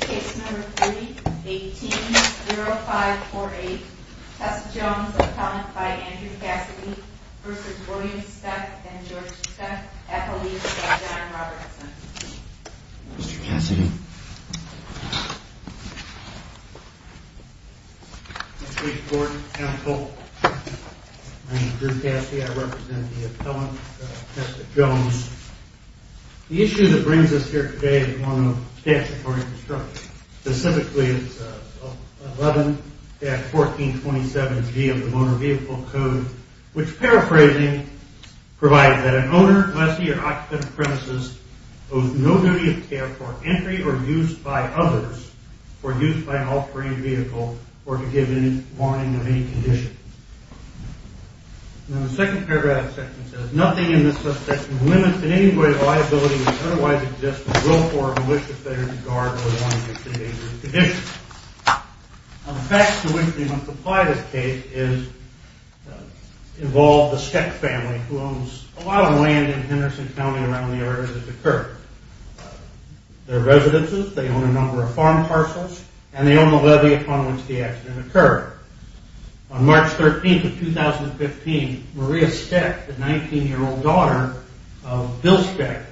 case number three, 18 0548 test Jones by Andrew Cassidy vs. William Steck and George Steck at the leadership of John Robertson, Mr. Cassidy. Mr. Regent Gordon, Madam Clerk, my name is Drew Cassidy, I represent the appellant, Mr. Jones. The issue that brings us here today is one of statutory construction, specifically it's 11-1427G of the Motor Vehicle Code which paraphrasing provides that an owner, lessee, or occupant of premises owes no duty of care for entry or use by others for use by an off-ramp vehicle or to give warning of any condition. Now the second paragraph of the section says, nothing in this section limits in any way the liability of an otherwise existent willful or malicious offender to guard, provide, or convey any condition. Now the facts to which we must apply this case involve the Steck family who owns a lot of land in Henderson County around the area that this occurred. Their residences, they own a number of farm parcels, and they own the levy upon which the accident occurred. On March 13th of 2015, Maria Steck, the 19-year-old daughter of Bill Steck,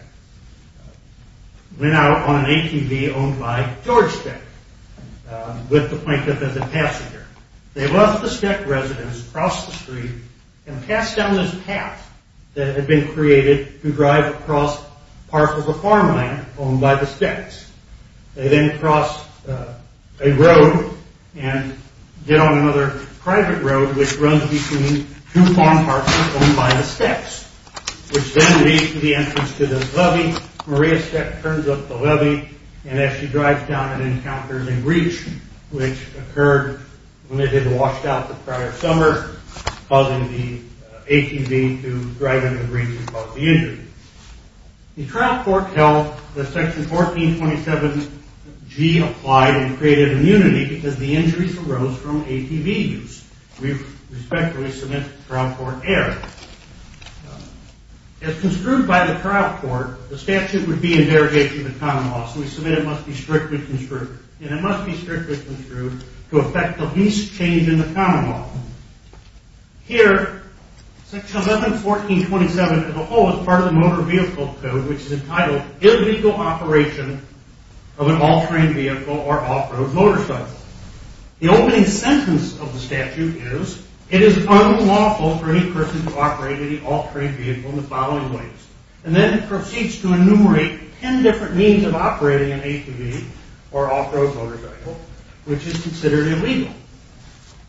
went out on an ATV owned by George Steck with the plaintiff as a passenger. They left the Steck residence, crossed the street, and passed down this path that had been created to drive across parcels of farmland owned by the Stecks. They then cross a road and get on another private road which runs between two farm parcels owned by the Stecks, which then leads to the entrance to this levy. Maria Steck turns up the levy, and as she drives down it encounters a breach which occurred when it had washed out the prior summer, causing the ATV to drive into the breach and cause the injury. The trial court held that Section 1427G applied and created immunity because the injuries arose from ATV use. We respectfully submit the trial court error. As construed by the trial court, the statute would be in derogation of the common law, so we submit it must be strictly construed, and it must be strictly construed to effect the least change in the common law. Here, Section 1114.27 as a whole is part of the Motor Vehicle Code, which is entitled, Illegal Operation of an All-Train Vehicle or Off-Road Motorcycle. The opening sentence of the statute is, it is unlawful for any person to operate any all-train vehicle in the following ways. And then it proceeds to enumerate ten different means of operating an ATV or off-road motorcycle, which is considered illegal.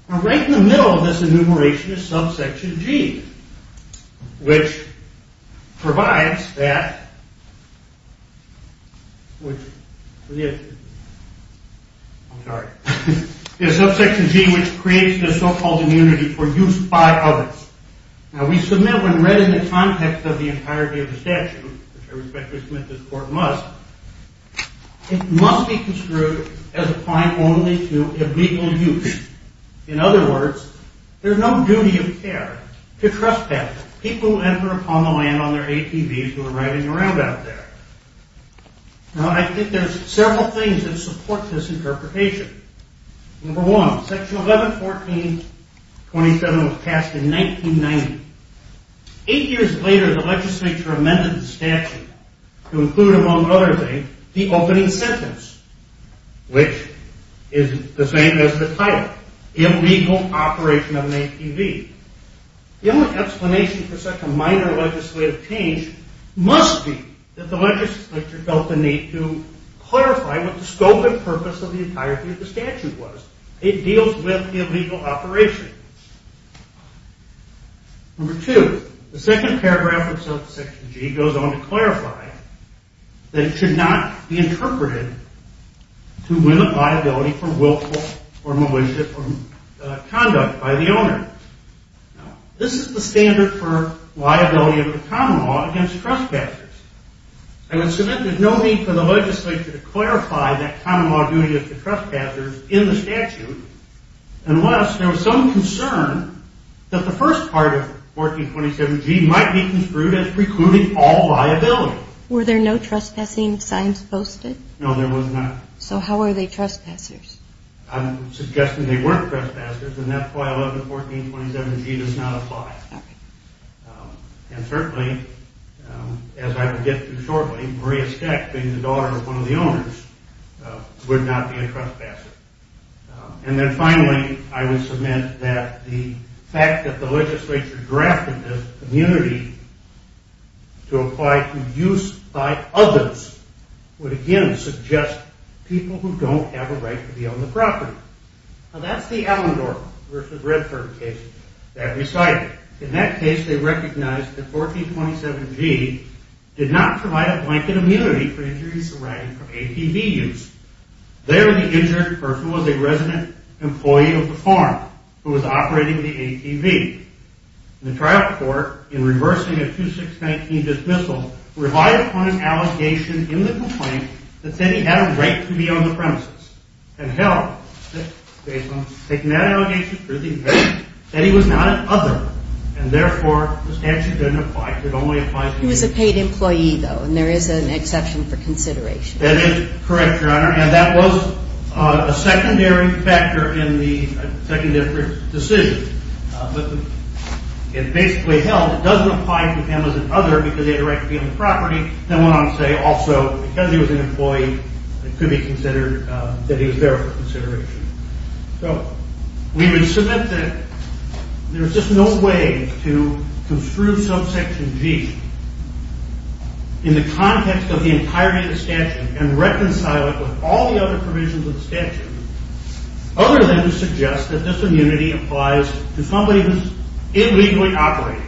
Now right in the middle of this enumeration is Subsection G, which provides that, which is, I'm sorry, is Subsection G which creates this so-called immunity for use by others. Now we submit when read in the context of the entirety of the statute, which I respectfully submit this court must, it must be construed as applying only to illegal use. In other words, there's no duty of care to trespass people who enter upon the land on their ATVs who are riding around out there. Now I think there's several things that support this interpretation. Number one, Section 1114.27 was passed in 1990. Eight years later the legislature amended the statute to include, among other things, the opening sentence, which is the same as the title, Illegal Operation of an ATV. The only explanation for such a minor legislative change must be that the legislature felt the need to clarify what the scope and purpose of the entirety of the statute was. It deals with illegal operation. Number two, the second paragraph of Subsection G goes on to clarify that it should not be interpreted to limit liability for willful or malicious conduct by the owner. This is the standard for liability of the common law against trespassers. I would submit there's no need for the legislature to clarify that common law duty of the trespassers in the statute unless there was some concern that the first part of 1427G might be construed as precluding all liability. Were there no trespassing signs posted? No, there was not. So how are they trespassers? I'm suggesting they weren't trespassers and that's why 1114.27G does not apply. And certainly, as I will get to shortly, Maria Steck, being the daughter of one of the owners, would not be a trespasser. And then finally, I would submit that the fact that the legislature drafted this community to apply to use by others would again suggest people who don't have a right to be on the property. Now, that's the Allendorf versus Redford case that recited. In that case, they recognized that 1427G did not provide a blanket immunity for injuries arising from ATV use. There, the injured person was a resident employee of the farm who was operating the ATV. The trial court, in reversing a 2619 dismissal, relied upon an allegation in the complaint that said he had a right to be on the premises. And held, based on that allegation, that he was not an other, and therefore, the statute didn't apply. It only applied to… He was a paid employee, though, and there is an exception for consideration. That is correct, Your Honor. And that was a secondary factor in the second difference decision. But it basically held it doesn't apply to him as an other because he had a right to be on the property. Then went on to say also, because he was an employee, it could be considered that he was there for consideration. So, we would submit that there is just no way to construe subsection G in the context of the entirety of the statute and reconcile it with all the other provisions of the statute, other than to suggest that this immunity applies to somebody who is illegally operating.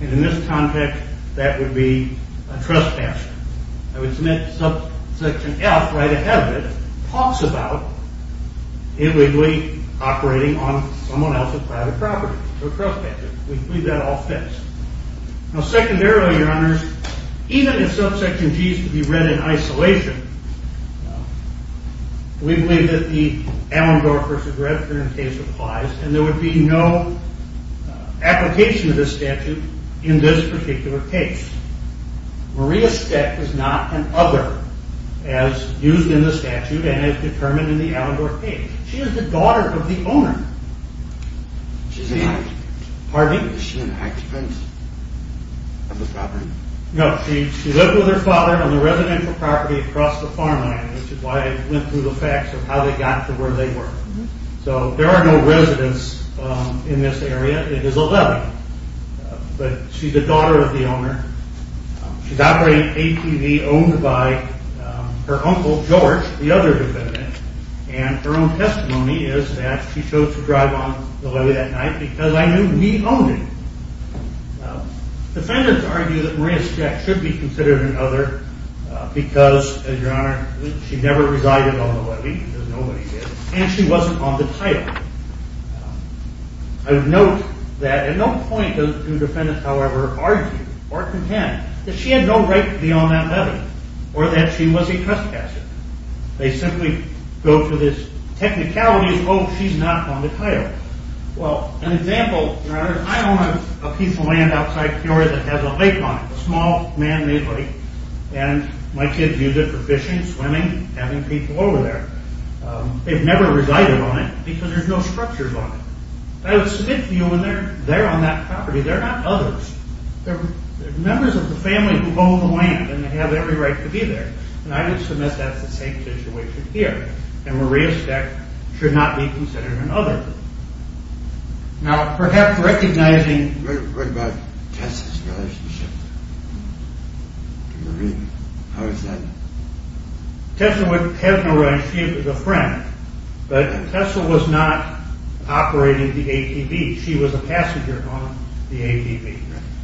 And in this context, that would be a trespasser. I would submit subsection F, right ahead of it, talks about illegally operating on someone else's private property. They're trespassers. We leave that all fixed. Now, secondarily, Your Honors, even if subsection G is to be read in isolation, we believe that the Allendorf v. Redfern case applies, and there would be no application of this statute in this particular case. Maria Stett is not an other as used in the statute and as determined in the Allendorf case. Pardon me? Is she an occupant of the property? No, she lived with her father on the residential property across the farmland, which is why I went through the facts of how they got to where they were. So, there are no residents in this area. It is 11, but she's the daughter of the owner. She's operating ATV owned by her uncle, George, the other defendant, and her own testimony is that she chose to drive on the levee that night because I knew he owned it. Defendants argue that Maria Stett should be considered an other because, Your Honor, she never resided on the levee, because nobody did, and she wasn't on the title. I would note that at no point do defendants, however, argue or contend that she had no right to be on that levee or that she was a trespasser. They simply go for this technicality of, oh, she's not on the title. Well, an example, Your Honor, I own a piece of land outside Peoria that has a lake on it, a small man-made lake, and my kids use it for fishing, swimming, having people over there. They've never resided on it because there's no structures on it. I would submit to you when they're there on that property, they're not others. They're members of the family who own the land, and they have every right to be there, and I would submit that's the same situation here, and Maria Stett should not be considered an other. Now, perhaps recognizing... What about Tess's relationship to Maria? How is that? Tess had no right. She was a friend, but Tess was not operating the ATV. She was a passenger on the ATV.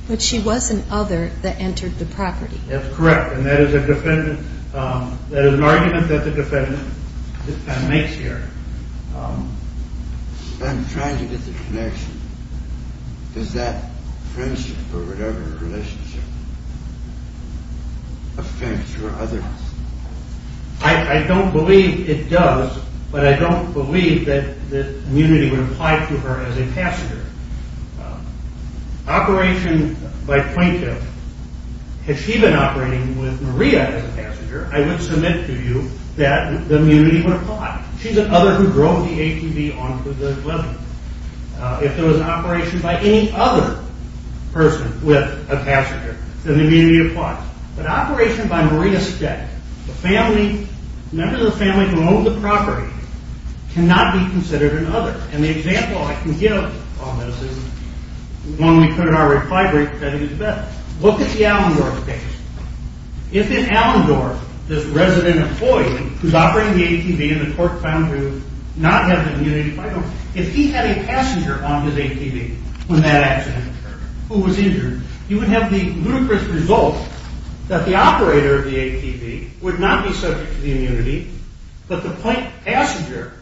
But she was an other that entered the property. That's correct, and that is an argument that the defendant makes here. I'm trying to get the connection. Does that friendship or whatever relationship affect your otherness? I don't believe it does, but I don't believe that immunity would apply to her as a passenger. Operation by plaintiff, had she been operating with Maria as a passenger, I would submit to you that the immunity would apply. She's an other who drove the ATV onto the living room. If there was an operation by any other person with a passenger, then the immunity applies. But operation by Maria Stett, the family, members of the family who own the property, cannot be considered an other. And the example I can give on this is, when we put it on our reply brief, that he's an other. Look at the Allendorf case. If in Allendorf, this resident employee who's operating the ATV in the court found to not have immunity, if he had a passenger on his ATV when that accident occurred who was injured, he would have the ludicrous result that the operator of the ATV would not be subject to the immunity, but the passenger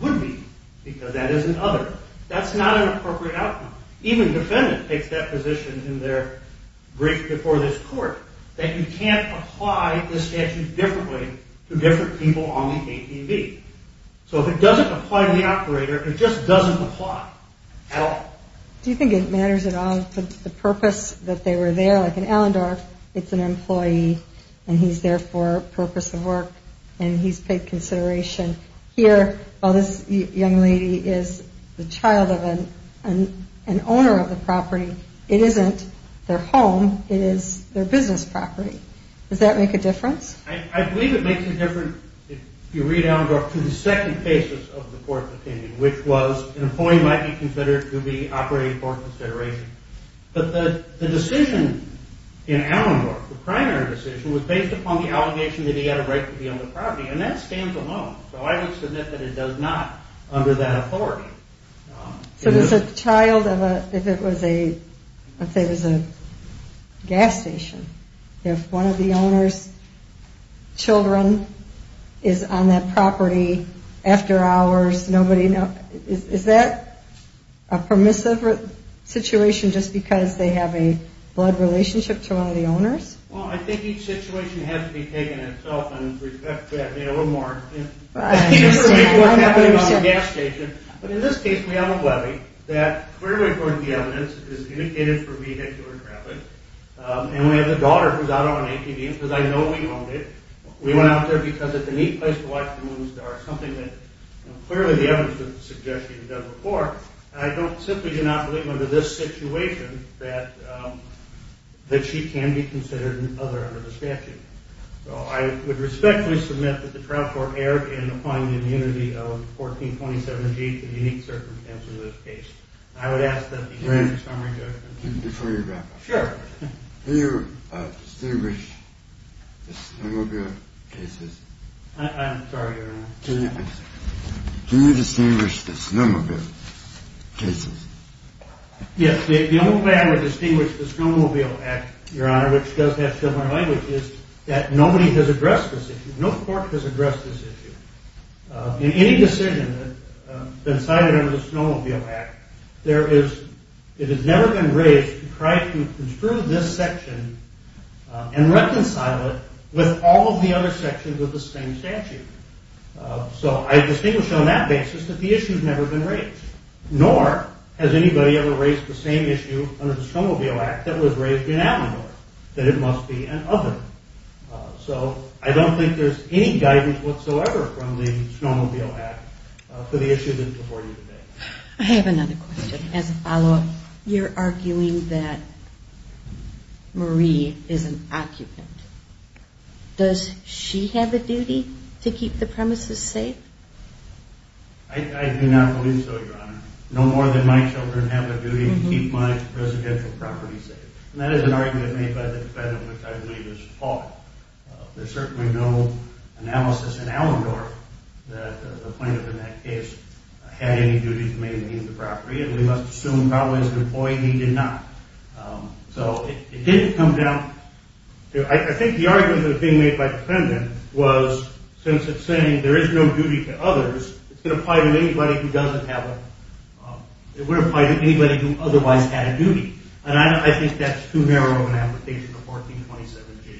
would be, because that is an other. That's not an appropriate outcome. Even defendant takes that position in their brief before this court, that you can't apply the statute differently to different people on the ATV. So if it doesn't apply to the operator, it just doesn't apply at all. Do you think it matters at all the purpose that they were there? Like in Allendorf, it's an employee, and he's there for a purpose of work, and he's paid consideration. Here, while this young lady is the child of an owner of the property, it isn't their home. It is their business property. Does that make a difference? I believe it makes a difference, if you read Allendorf, to the second basis of the court's opinion, which was an employee might be considered to be operating for consideration. But the decision in Allendorf, the primary decision, was based upon the allegation that he had a right to be on the property, and that stands alone. So I would submit that it does not under that authority. So if it's a child of a, let's say it was a gas station, if one of the owner's children is on that property after hours, is that a permissive situation just because they have a blood relationship to one of the owners? Well, I think each situation has to be taken in itself, and with respect to that, I mean, a little more. I understand. But in this case, we have a levy that clearly includes the evidence, is indicated for vehicular traffic, and we have the daughter who's out on ATVs, because I know we owned it. We went out there because it's a neat place to watch the moon and stars, something that clearly the evidence would suggest she would have done before. I simply do not believe under this situation that she can be considered an other under the statute. So I would respectfully submit that the trial court erred in applying the immunity of 1427G to the unique circumstances of this case. I would ask that we have a summary judgment. Before you wrap up. Sure. Can you distinguish the snowmobile cases? I'm sorry, Your Honor. Can you distinguish the snowmobile cases? Yes. The only way I would distinguish the Snowmobile Act, Your Honor, which does have similar language, is that nobody has addressed this issue. No court has addressed this issue. In any decision that's been cited under the Snowmobile Act, it has never been raised to try to construe this section and reconcile it with all of the other sections of the same statute. So I distinguish on that basis that the issue has never been raised, nor has anybody ever raised the same issue under the Snowmobile Act that was raised in Alamore, that it must be an other. So I don't think there's any guidance whatsoever from the Snowmobile Act for the issue that's before you today. I have another question as a follow-up. You're arguing that Marie is an occupant. Does she have a duty to keep the premises safe? I do not believe so, Your Honor. No more than my children have a duty to keep my residential property safe. And that is an argument made by the defendant, which I believe is Paul. There's certainly no analysis in Allendorf that the plaintiff in that case had any duty to maintain the property. And we must assume probably as an employee, he did not. So it didn't come down to – I think the argument that was being made by the defendant was, since it's saying there is no duty to others, it's going to apply to anybody who doesn't have a – it would apply to anybody who otherwise had a duty. And I think that's too narrow of an application for 1427G.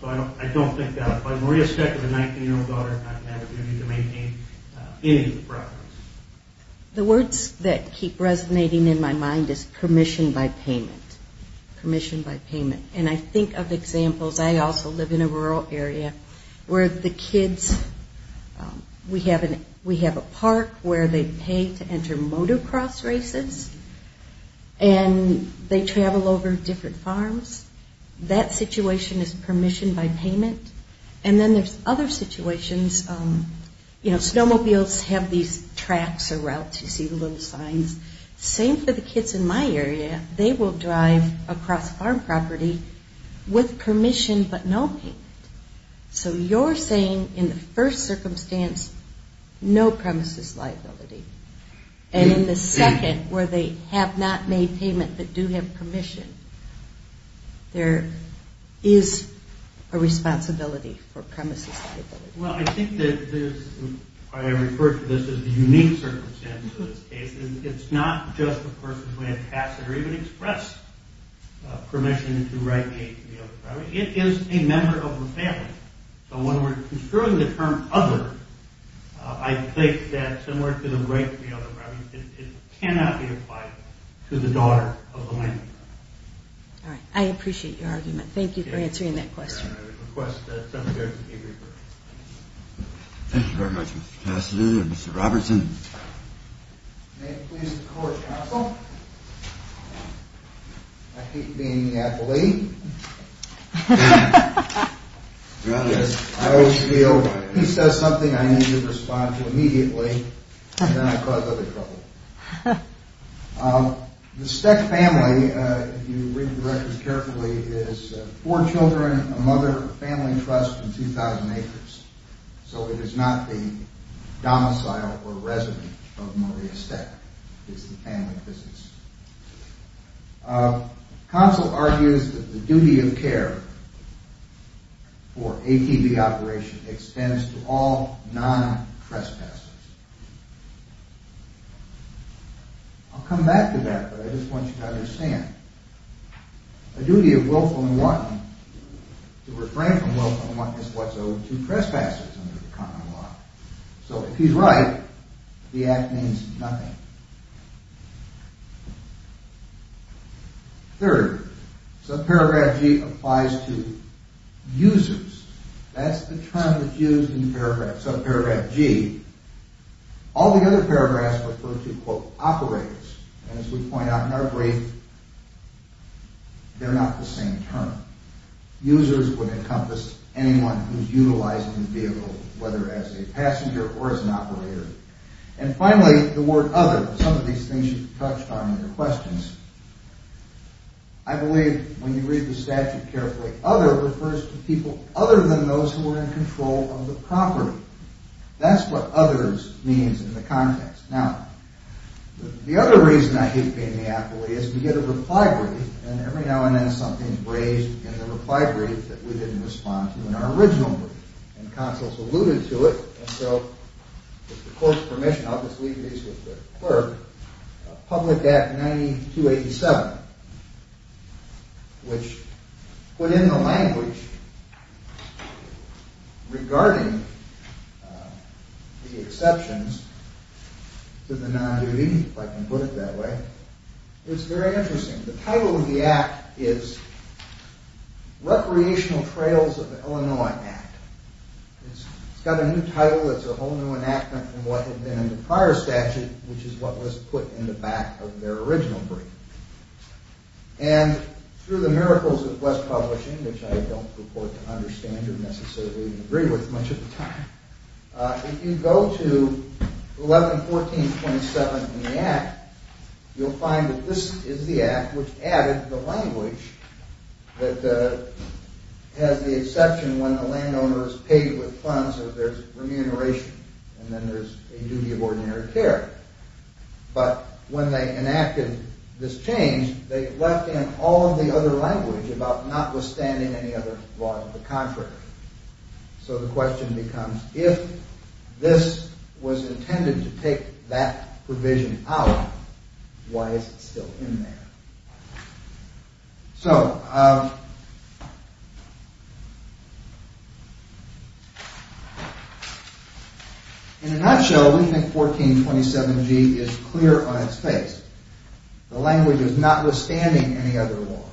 So I don't think that applies. Does Marie expect as a 19-year-old daughter not to have a duty to maintain any of the properties? The words that keep resonating in my mind is permission by payment. Permission by payment. And I think of examples – I also live in a rural area where the kids – we have a park where they pay to enter motocross races, and they travel over different farms. That situation is permission by payment. And then there's other situations. You know, snowmobiles have these tracks or routes. You see the little signs. Same for the kids in my area. They will drive across farm property with permission but no payment. So you're saying in the first circumstance, no premises liability. And in the second, where they have not made payment but do have permission, there is a responsibility for premises liability. Well, I think that there's – I refer to this as the unique circumstance in this case. It's not just the person who has passed or even expressed permission to write a – it is a member of the family. So when we're construing the term other, I think that similar to the right to be other, it cannot be applied to the daughter of the landowner. All right. I appreciate your argument. Thank you for answering that question. I request that Senator Keefer. Thank you very much, Mr. Cassidy. Mr. Robertson. May it please the Court, Counsel. I hate being the athlete. Well, yes. I always feel he says something I need to respond to immediately, and then I cause other trouble. The Steck family, if you read the records carefully, is four children, a mother, a family trust, and 2,000 acres. So it is not the domicile or residence of Maria Steck. It's the family business. Counsel argues that the duty of care for ATB operation extends to all non-trespassers. I'll come back to that, but I just want you to understand. The duty of willful and wanton, to refrain from willful and wantonness whatsoever, to trespassers under the common law. So if he's right, the act means nothing. Third, subparagraph G applies to users. That's the term that's used in subparagraph G. All the other paragraphs refer to, quote, operators. And as we point out in our brief, they're not the same term. Users would encompass anyone who's utilized the vehicle, whether as a passenger or as an operator. And finally, the word other. Some of these things you've touched on in your questions. I believe when you read the statute carefully, other refers to people other than those who are in control of the property. That's what others means in the context. Now, the other reason I hate paying the appellee is we get a reply brief, and every now and then something's raised in the reply brief that we didn't respond to in our original brief. And counsel's alluded to it, and so with the court's permission, I'll just leave these with the clerk. Public Act 9287, which put in the language regarding the exceptions to the non-duty, if I can put it that way. It's very interesting. The title of the act is Recreational Trails of Illinois Act. It's got a new title. It's a whole new enactment from what had been in the prior statute, which is what was put in the back of their original brief. And through the miracles of West publishing, which I don't purport to understand or necessarily agree with much of the time, if you go to 1114.7 in the act, you'll find that this is the act which added the language that has the exception when the landowner is paid with funds or there's remuneration, and then there's a duty of ordinary care. But when they enacted this change, they left in all of the other language about notwithstanding any other law to the contrary. So the question becomes, if this was intended to take that provision out, why is it still in there? So... In a nutshell, we think 1427G is clear on its face. The language is notwithstanding any other law.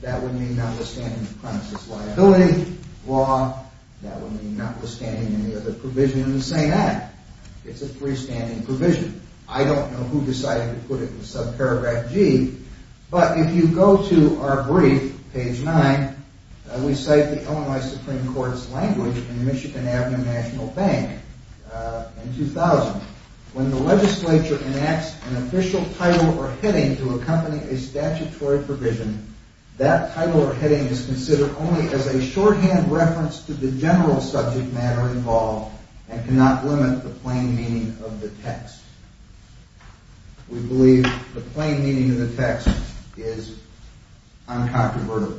That would mean notwithstanding the premises liability law. That would mean notwithstanding any other provision in the same act. It's a freestanding provision. I don't know who decided to put it in subparagraph G, but if you go to our brief, page 9, we cite the Illinois Supreme Court's language in the Michigan Avenue National Bank in 2000. When the legislature enacts an official title or heading to accompany a statutory provision, that title or heading is considered only as a shorthand reference to the general subject matter involved and cannot limit the plain meaning of the text. We believe the plain meaning of the text is uncontrovertible.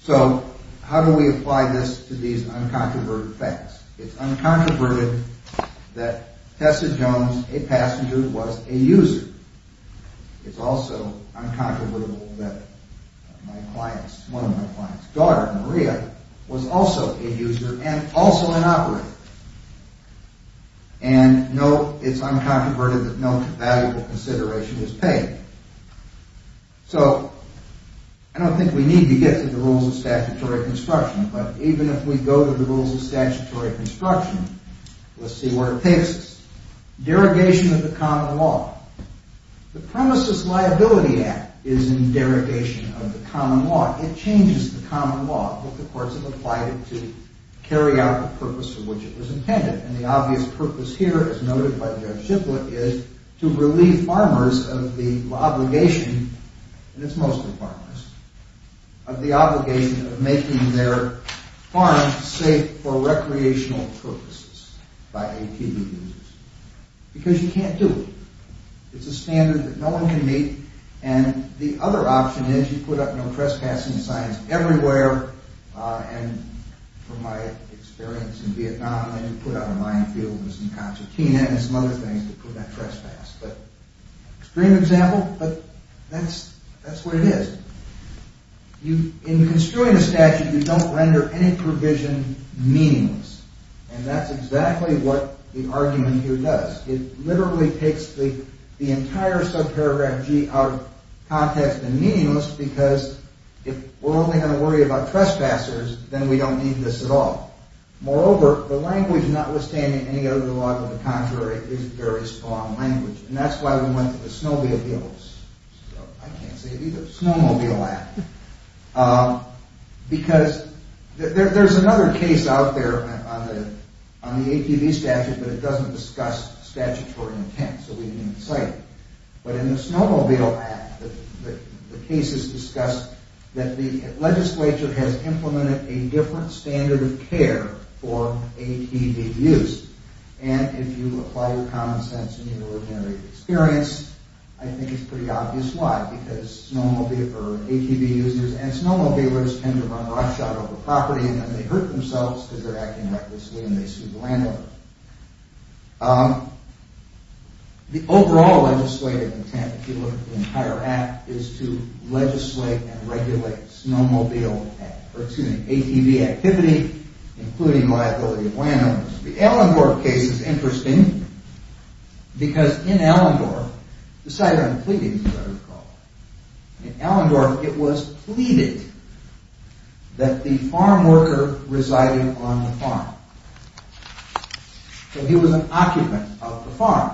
So, how do we apply this to these uncontroverted facts? It's uncontroverted that Tessa Jones, a passenger, was a user. It's also uncontrovertible that my clients, one of my clients' daughter, Maria, was also a user and also an operator. And no, it's uncontroverted that no valuable consideration is paid. So, I don't think we need to get to the rules of statutory construction, but even if we go to the rules of statutory construction, let's see where it takes us. Derogation of the common law. The Premises Liability Act is in derogation of the common law. It changes the common law, but the courts have applied it to carry out the purpose of which it was intended. And the obvious purpose here, as noted by Judge Shiblett, is to relieve farmers of the obligation, and it's mostly farmers, of the obligation of making their farms safe for recreational purposes by ATV users. Because you can't do it. It's a standard that no one can meet. And the other option is you put up No Trespassing signs everywhere and, from my experience in Vietnam, you put up a minefield with some concertina and some other things to put that trespass. Extreme example, but that's what it is. In construing a statute, you don't render any provision meaningless. And that's exactly what the argument here does. It literally takes the entire subparagraph G out of context and meaningless because if we're only going to worry about trespassers, then we don't need this at all. Moreover, the language notwithstanding any other law to the contrary is very strong language. And that's why we went to the Snowmobile Act. Because there's another case out there on the ATV statute, but it doesn't discuss statutory intent, so we didn't cite it. But in the Snowmobile Act, the case is discussed that the legislature has implemented a different standard of care for ATV use. And if you apply your common sense and your original experience, I think it's pretty obvious why. Because ATV users and snowmobilers tend to run roughshod over property and then they hurt themselves because they're acting recklessly and they sue the landlord. The overall legislative intent, if you look at the entire act, is to legislate and regulate snowmobile act, or excuse me, ATV activity, including liability of landowners. The Allendorf case is interesting because in Allendorf, the site of the pleading, as I recall, in Allendorf it was pleaded that the farm worker resided on the farm. So he was an occupant of the farm.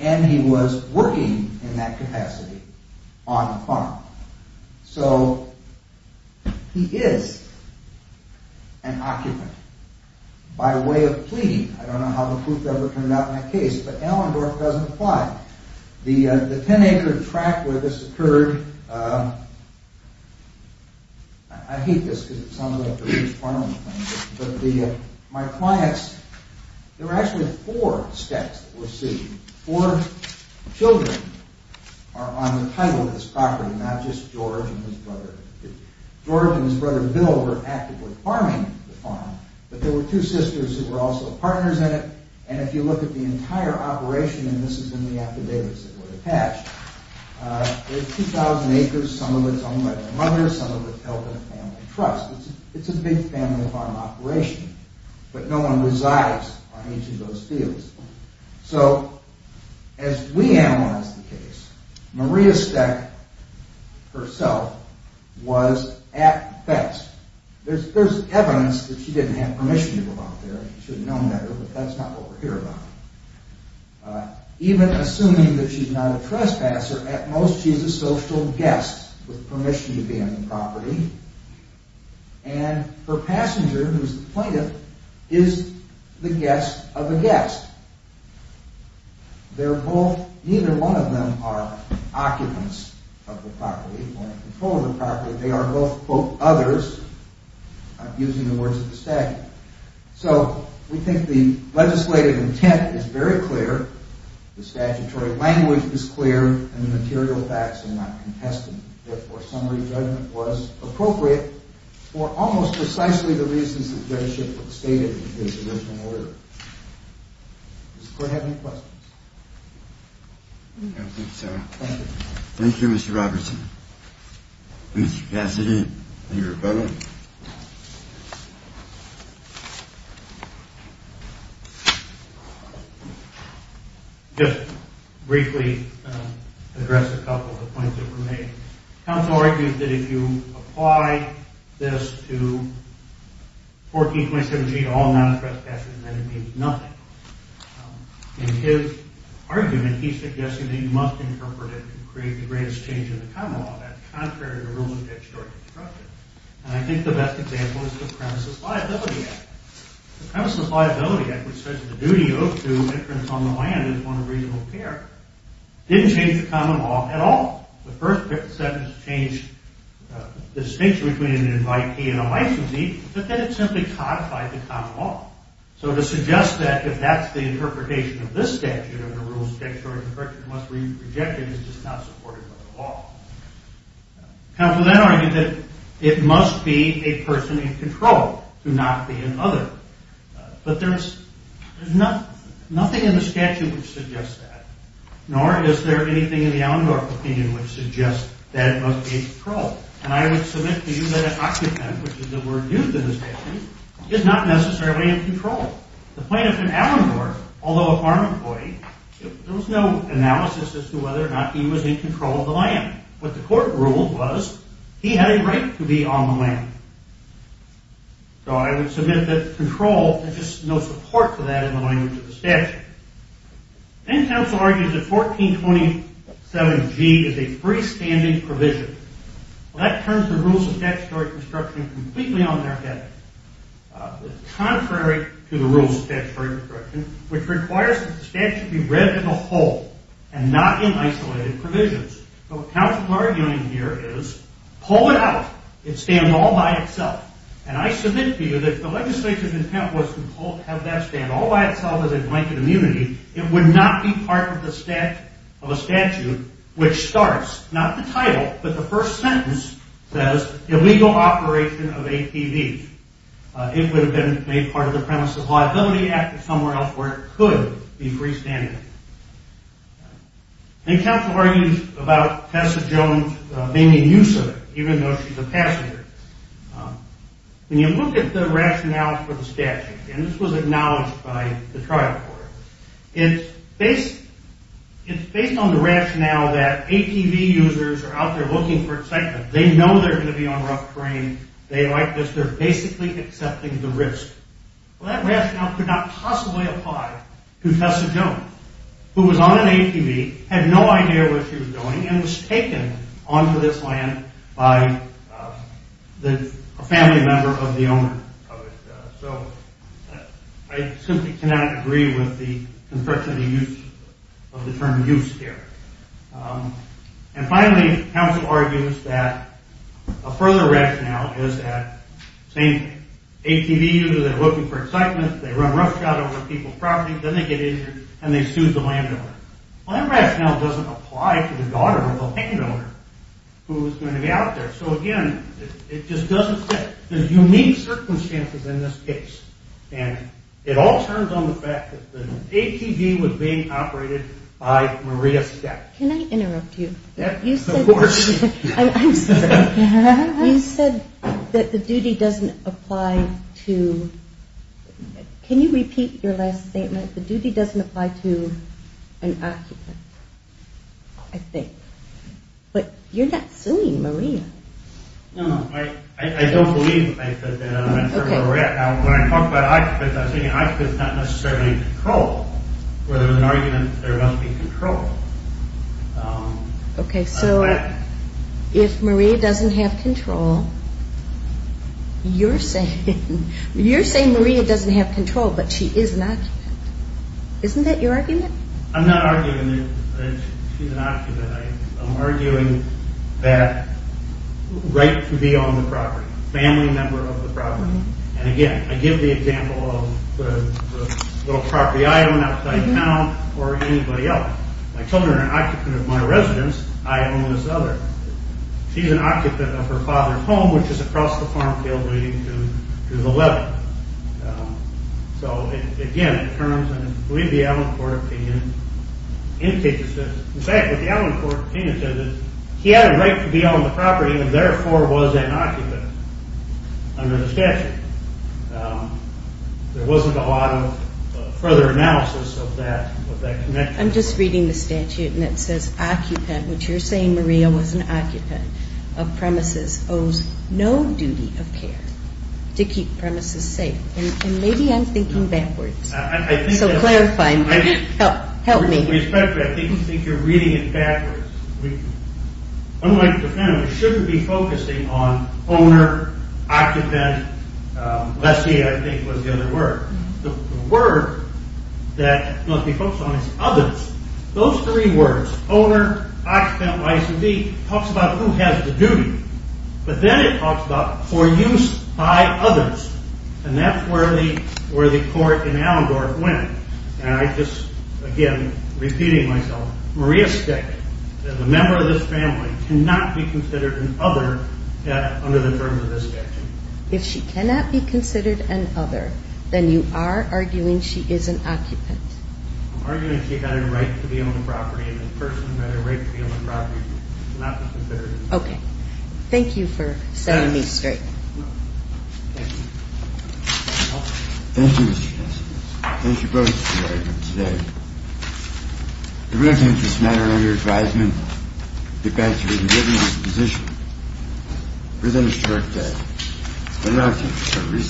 And he was working in that capacity on the farm. So he is an occupant by way of pleading. I don't know how the proof ever turned out in that case, but Allendorf doesn't apply. The 10-acre tract where this occurred, I hate this because it sounds like a huge farming thing, but my clients, there were actually four steps that were sued. Four children are on the title of this property, not just George and his brother. George and his brother Bill were actively farming the farm, but there were two sisters who were also partners in it. And if you look at the entire operation, and this is in the affidavits that were attached, there's 2,000 acres, some of it's owned by their mother, some of it's held in a family trust. It's a big family farm operation, but no one resides on each of those fields. So as we analyzed the case, Maria Steck herself was at best, there's evidence that she didn't have permission to go out there. She should have known better, but that's not what we're here about. Even assuming that she's not a trespasser, at most she's a social guest with permission to be on the property. And her passenger, who's the plaintiff, is the guest of the guest. They're both, neither one of them are occupants of the property or in control of the property. They are both, quote, others. I'm using the words of the statute. So we think the legislative intent is very clear, the statutory language is clear, and the material facts are not contested. Therefore, summary judgment was appropriate for almost precisely the reasons the judgeship stated in its original order. Does the court have any questions? I don't think so. Thank you. Thank you, Mr. Robertson. Mr. Cassidy, and your opponent. Just briefly address a couple of the points that were made. Counsel argued that if you apply this to 14.7G, all non-trespassers, then it means nothing. In his argument, he's suggesting that you must interpret it to create the greatest change in the common law. That's contrary to rules of textual construction. And I think the best example is the Premises Liability Act. The Premises Liability Act, which says the duty owed to entrance on the land is one of reasonable care, didn't change the common law at all. The first sentence changed the distinction between an invitee and a licensee, but then it simply codified the common law. So to suggest that if that's the interpretation of this statute of the rules of textual construction must be rejected is just not supportive of the law. Counsel then argued that it must be a person in control to not be another. But there's nothing in the statute which suggests that, nor is there anything in the Allendorf opinion which suggests that it must be in control. And I would submit to you that an occupant, which is the word used in the statute, is not necessarily in control. The plaintiff in Allendorf, although a farm employee, there was no analysis as to whether or not he was in control of the land. What the court ruled was he had a right to be on the land. So I would submit that control, there's just no support for that in the language of the statute. Then counsel argues that 1427G is a freestanding provision. Well, that turns the rules of statutory construction completely on their head. It's contrary to the rules of statutory construction, which requires that the statute be read as a whole and not in isolated provisions. So counsel's arguing here is pull it out. It stands all by itself. And I submit to you that if the legislative intent was to have that stand all by itself as a blanket immunity, it would not be part of a statute which starts, not the title, but the first sentence, says illegal operation of ATVs. It would have been made part of the premise of liability somewhere else where it could be freestanding. Then counsel argues about Tessa Jones being a user even though she's a passenger. When you look at the rationales for the statute, and this was acknowledged by the trial court, it's based on the rationale that ATV users are out there looking for excitement. They know they're going to be on rough terrain. They like this. They're basically accepting the risk. Well, that rationale could not possibly apply to Tessa Jones, who was on an ATV, had no idea where she was going, and was taken onto this land by a family member of the owner of it. So I simply cannot agree with the conception of the term use here. And finally, counsel argues that a further rationale is that same ATV user, they're looking for excitement, they run roughshod over people's property, then they get injured, and they sue the landowner. Well, that rationale doesn't apply to the daughter of the landowner who was going to be out there. So again, it just doesn't fit. There's unique circumstances in this case, and it all turns on the fact that the ATV was being operated by Maria Scott. Can I interrupt you? Of course. You said that the duty doesn't apply to... Can you repeat your last statement? The duty doesn't apply to an occupant, I think. But you're not suing Maria. No, I don't believe I'm saying occupants not necessarily the landowner, but the landowner is not necessarily the landowner. And I'm not saying the landowner is not necessarily the occupant. I'm arguing that Maria doesn't have control, where there's an argument that there must be control. Okay, so if Maria doesn't have control, you're saying Maria doesn't have control, but she is an occupant. Isn't that your argument? I'm not arguing that she's an occupant. family member of the property. And again, I give the example of the little property that was on the property that was on the property that was on the property that was on the property. I own that type of town or anybody else. My children are an occupant of my residence. I own this other. She's an occupant of her father's home which is across the farm field leading to the levee. So, again, in terms of I believe the Avalon Court opinion indicates that in fact, what the Avalon Court opinion said is he had a right to be on the property and therefore was an occupant under the statute. There wasn't a lot of further analysis of that connection. I'm just reading the statute and it says occupant which you're saying Maria was an occupant of premises owes no duty of care to keep premises safe and maybe I'm thinking backwards. So clarify me. Help me. Respectfully, I think you think you're reading it backwards. Unlike the family, we shouldn't on owner, occupant, lessee, I think was the other word. The word that must be focused on is others. Those three words, owner, occupant, licensee, talks about who has the duty but then it talks about for use by others and that's where the argument is that the member of this family cannot be considered an other under the terms of this statute. If she cannot be considered an other then you are arguing she is an occupant. I'm arguing she had a right to be on the property and the person had a right to be on the property but cannot be considered an other. I think this matter under advisement depends on the position presented today. Thank you for